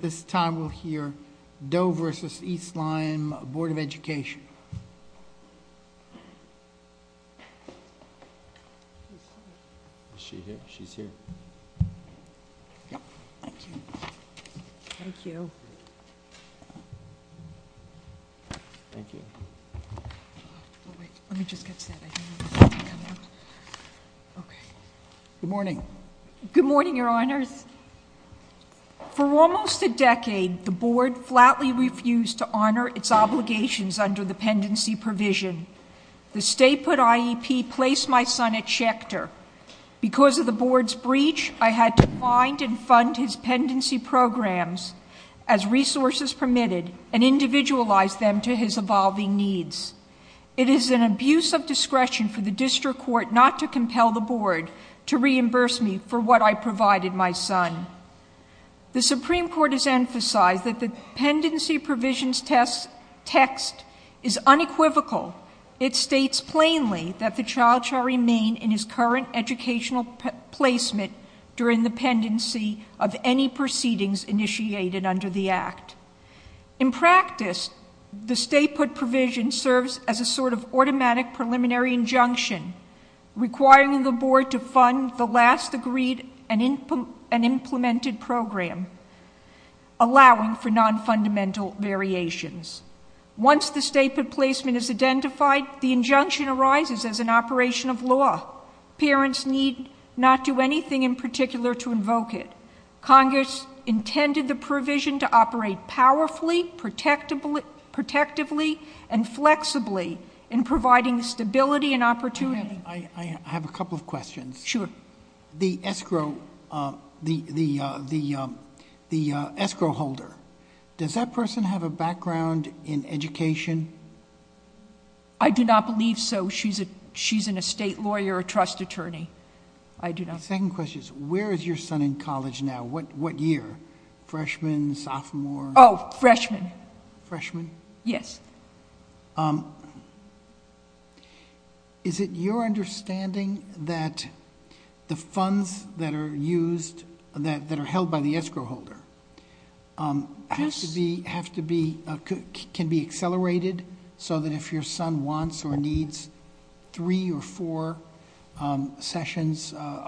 This time we'll hear Doe v. East Lyme Board of Education. Is she here? She's here. Yep. Thank you. Thank you. Thank you. Well, wait. Let me just get to that. I didn't know this was going to come out. Okay. Good morning. Good morning, your honors. For almost a decade, the board flatly refused to honor its obligations under the pendency provision. The state put IEP placed my son at Schechter. Because of the board's breach, I had to find and fund his pendency programs as resources permitted and individualize them to his evolving needs. It is an abuse of discretion for the district court not to compel the board to reimburse me for what I provided my son. The Supreme Court has emphasized that the pendency provisions text is unequivocal. It states plainly that the child shall remain in his current educational placement during the pendency of any proceedings initiated under the act. In practice, the state put provision serves as a sort of automatic preliminary injunction requiring the board to fund the last agreed and implemented program. Allowing for non-fundamental variations. Once the state put placement is identified, the injunction arises as an operation of law. Parents need not do anything in particular to invoke it. Congress intended the provision to operate powerfully, protectively, and flexibly in providing stability and opportunity. I have a couple of questions. Sure. The escrow holder, does that person have a background in education? I do not believe so. She's an estate lawyer, a trust attorney. I do not. My second question is, where is your son in college now? What year? Freshman, sophomore? Freshman. Freshman? Yes. Is it your understanding that the funds that are used, that are held by the escrow holder, have to be, can be accelerated so that if your son wants or is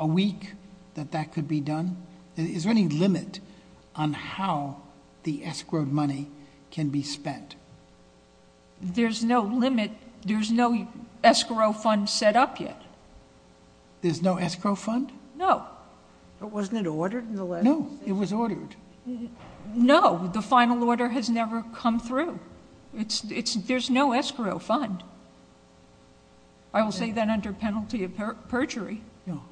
weak, that that could be done? Is there any limit on how the escrowed money can be spent? There's no limit. There's no escrow fund set up yet. There's no escrow fund? No. But wasn't it ordered in the last? No, it was ordered. No, the final order has never come through. It's, it's, there's no escrow fund. I will say that under penalty of perjury. No.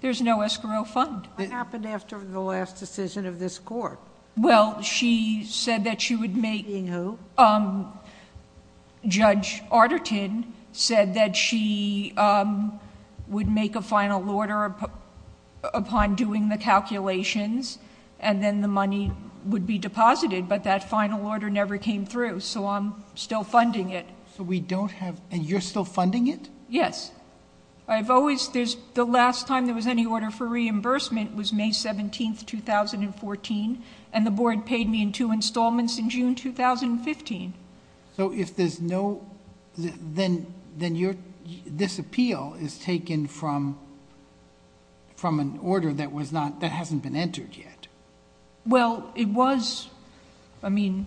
There's no escrow fund. What happened after the last decision of this court? Well, she said that she would make... Making who? Judge Arterton said that she would make a final order upon doing the calculations and then the money would be deposited, but that final order never came through, so I'm still funding it. So we don't have, and you're still funding it? Yes. I've always, there's, the last time there was any order for reimbursement was May 17th, 2014, and the board paid me in two installments in June 2015. So if there's no, then, then you're, this appeal is taken from, from an order that was not, that hasn't been entered yet. Well, it was, I mean,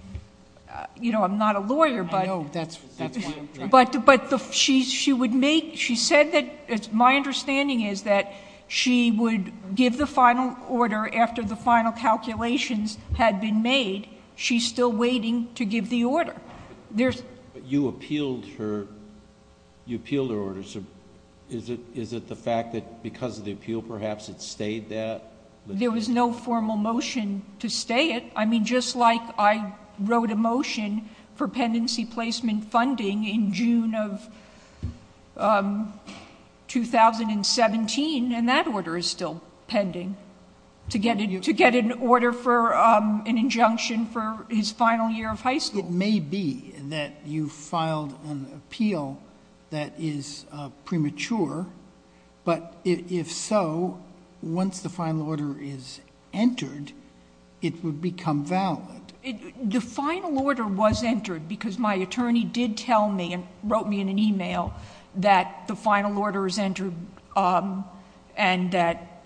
you know, I'm not a lawyer, but... I know, that's, that's why I'm trying to... But the, she would make, she said that, my understanding is that she would give the final order after the final calculations had been made. She's still waiting to give the order. There's... But you appealed her, you appealed her order. So is it, is it the fact that because of the appeal, perhaps it stayed that? There was no formal motion to stay it. I mean, just like I wrote a motion for pendency placement funding in June of 2017, and that order is still pending, to get an order for an injunction for his final year of high school. It may be that you filed an appeal that is premature, but if so, once the final order is entered, it would become valid. It, the final order was entered because my attorney did tell me and wrote me in an email that the final order is entered, and that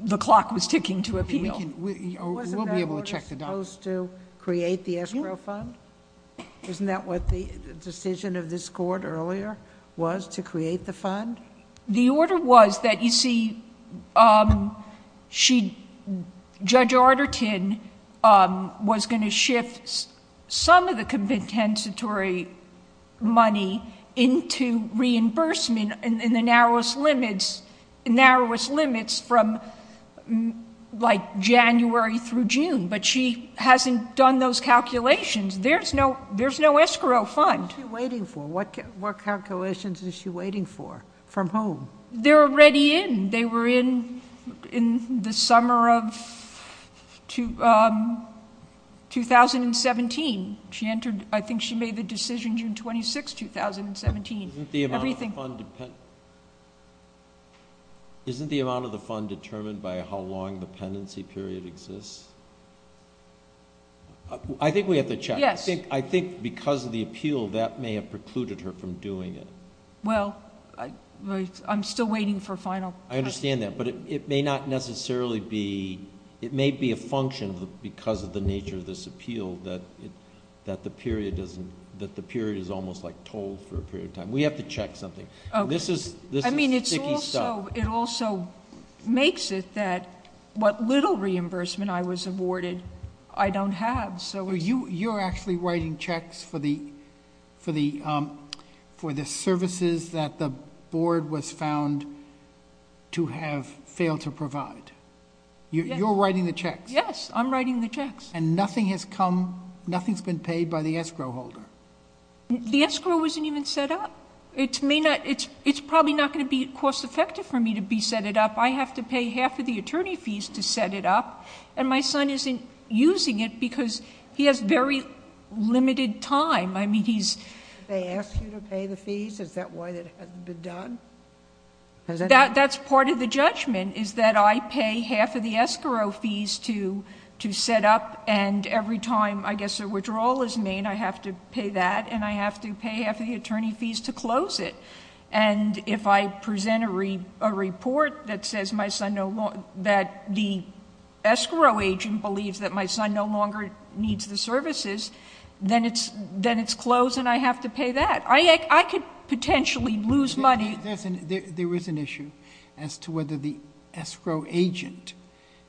the clock was ticking to appeal. We can, we'll be able to check the... Wasn't that order supposed to create the escrow fund? Isn't that what the decision of this court earlier was, to create the fund? The order was that, you see, she, Judge Arterton was going to shift some of the compensatory money into reimbursement in the narrowest limits, narrowest limits from like January through June, but she hasn't done those calculations. There's no, there's no escrow fund. What's she waiting for? What, what calculations is she waiting for? From whom? They're already in. They were in, in the summer of 2017. She entered, I think she made the decision June 26th, 2017. Isn't the amount of the fund determined by how long the pendency period exists? I think we have to check. Yes. I think because of the appeal, that may have precluded her from doing it. Well, I'm still waiting for final... I understand that, but it may not necessarily be, it may be a function of the, because of the nature of this appeal, that it, that the period doesn't, that the period is almost like told for a period of time. We have to check something. This is, this is sticky stuff. I mean, it's also, it also makes it that what little reimbursement I was awarded, I don't have. You're actually writing checks for the, for the, for the services that the board was found to have failed to provide. You're writing the checks? Yes, I'm writing the checks. And nothing has come, nothing's been paid by the escrow holder? The escrow wasn't even set up. It may not, it's, it's probably not going to be cost effective for me to be set it up. I have to pay half of the attorney fees to set it up. And my son isn't using it because he has very limited time. I mean, he's... They ask you to pay the fees? Is that why that hasn't been done? That's part of the judgment, is that I pay half of the escrow fees to, to set up. And every time, I guess, a withdrawal is made, I have to pay that. And I have to pay half of the attorney fees to close it. And if I present a re, a report that says my son no longer, that the escrow agent believes that my son no longer needs the services, then it's, then it's closed and I have to pay that. I, I could potentially lose money. There is an issue as to whether the escrow agent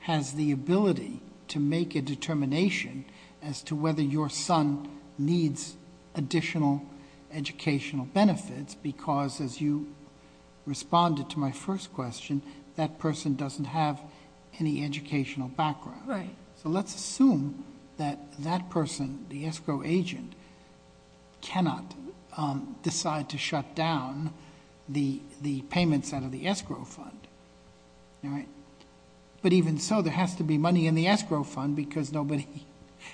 has the ability to make a determination as to whether your son needs additional educational benefits. Because as you responded to my first question, that person doesn't have any educational background. Right. So let's assume that that person, the escrow agent, cannot decide to shut down the, the payments out of the escrow fund, all right? But even so, there has to be money in the escrow fund, because nobody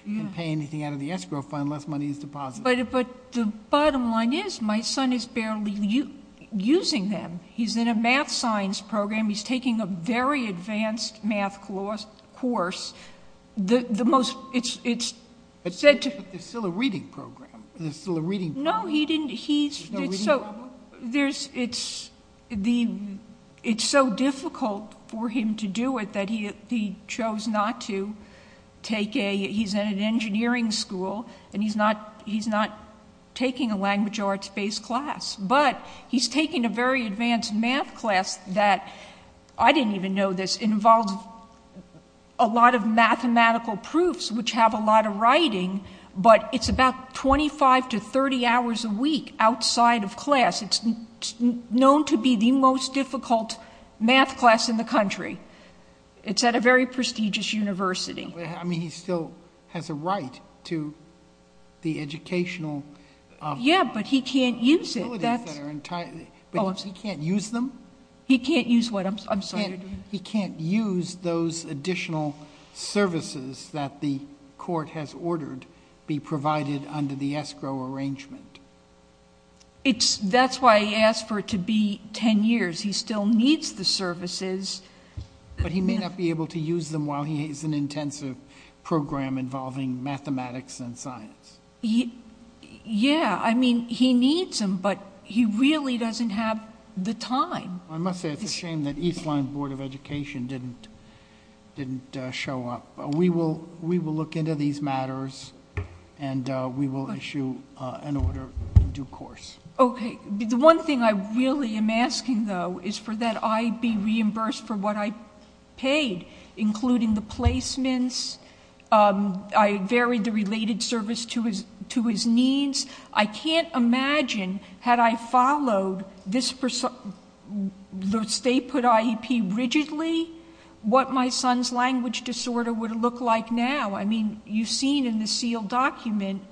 can pay anything out of the escrow fund unless money is deposited. But the bottom line is, my son is barely using them. He's in a math science program. He's taking a very advanced math course. The, the most, it's, it's said to- But there's still a reading program. There's still a reading program. No, he didn't, he's, it's so, there's, it's the, it's so difficult for him to do it that he, he chose not to take a, he's in an engineering school, and he's not, he's not taking a language arts-based class. But he's taking a very advanced math class that, I didn't even know this, involves a lot of mathematical proofs, which have a lot of writing, but it's about 25 to 30 hours a week outside of class. It's known to be the most difficult math class in the country. It's at a very prestigious university. I mean, he still has a right to the educational- Yeah, but he can't use it. Facilities that are entirely, but he can't use them? He can't use what I'm, I'm sorry. He can't use those additional services that the court has ordered be provided under the escrow arrangement. It's, that's why he asked for it to be 10 years. He still needs the services. But he may not be able to use them while he has an intensive program involving mathematics and science. He, yeah, I mean, he needs them, but he really doesn't have the time. I must say, it's a shame that Eastline Board of Education didn't, didn't show up. We will, we will look into these matters, and we will issue an order. In due course. Okay. The one thing I really am asking, though, is for that I be reimbursed for what I paid, including the placements. I varied the related service to his, to his needs. I can't imagine, had I followed this, the state put IEP rigidly, what my son's language disorder would look like now. I mean, you've seen in the sealed document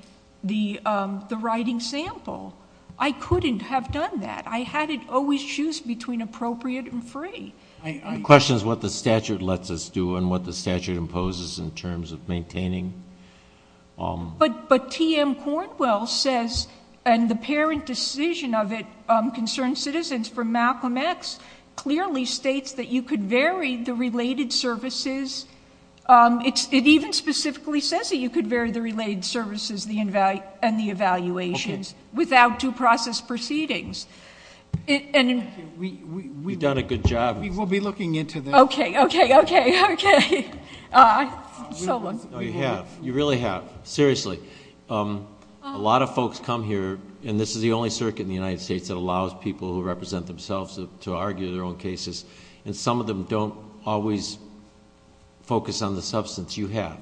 the, the writing sample. I couldn't have done that. I had it always choose between appropriate and free. I, I. Question is what the statute lets us do and what the statute imposes in terms of maintaining. But, but T.M. Cornwell says, and the parent decision of it, concerned citizens, from Malcolm X, clearly states that you could vary the related services. It's, it even specifically says that you could vary the related services, the inval, and the evaluations without due process proceedings. And. We've done a good job. We'll be looking into this. Okay, okay, okay, okay. So long. No, you have. You really have. Seriously. A lot of folks come here, and this is the only circuit in the United States that allows people who represent themselves to argue their own cases. And some of them don't always focus on the substance you have.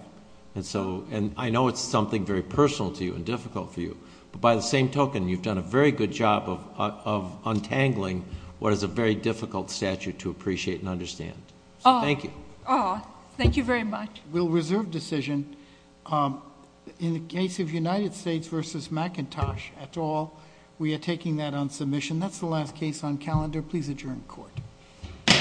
And so, and I know it's something very personal to you and difficult for you. But by the same token, you've done a very good job of, of untangling what is a very difficult statute to appreciate and understand. Thank you. Oh, thank you very much. We'll reserve decision. In the case of United States versus McIntosh et al, we are taking that on submission. That's the last case on calendar. Please adjourn court. Court is adjourned.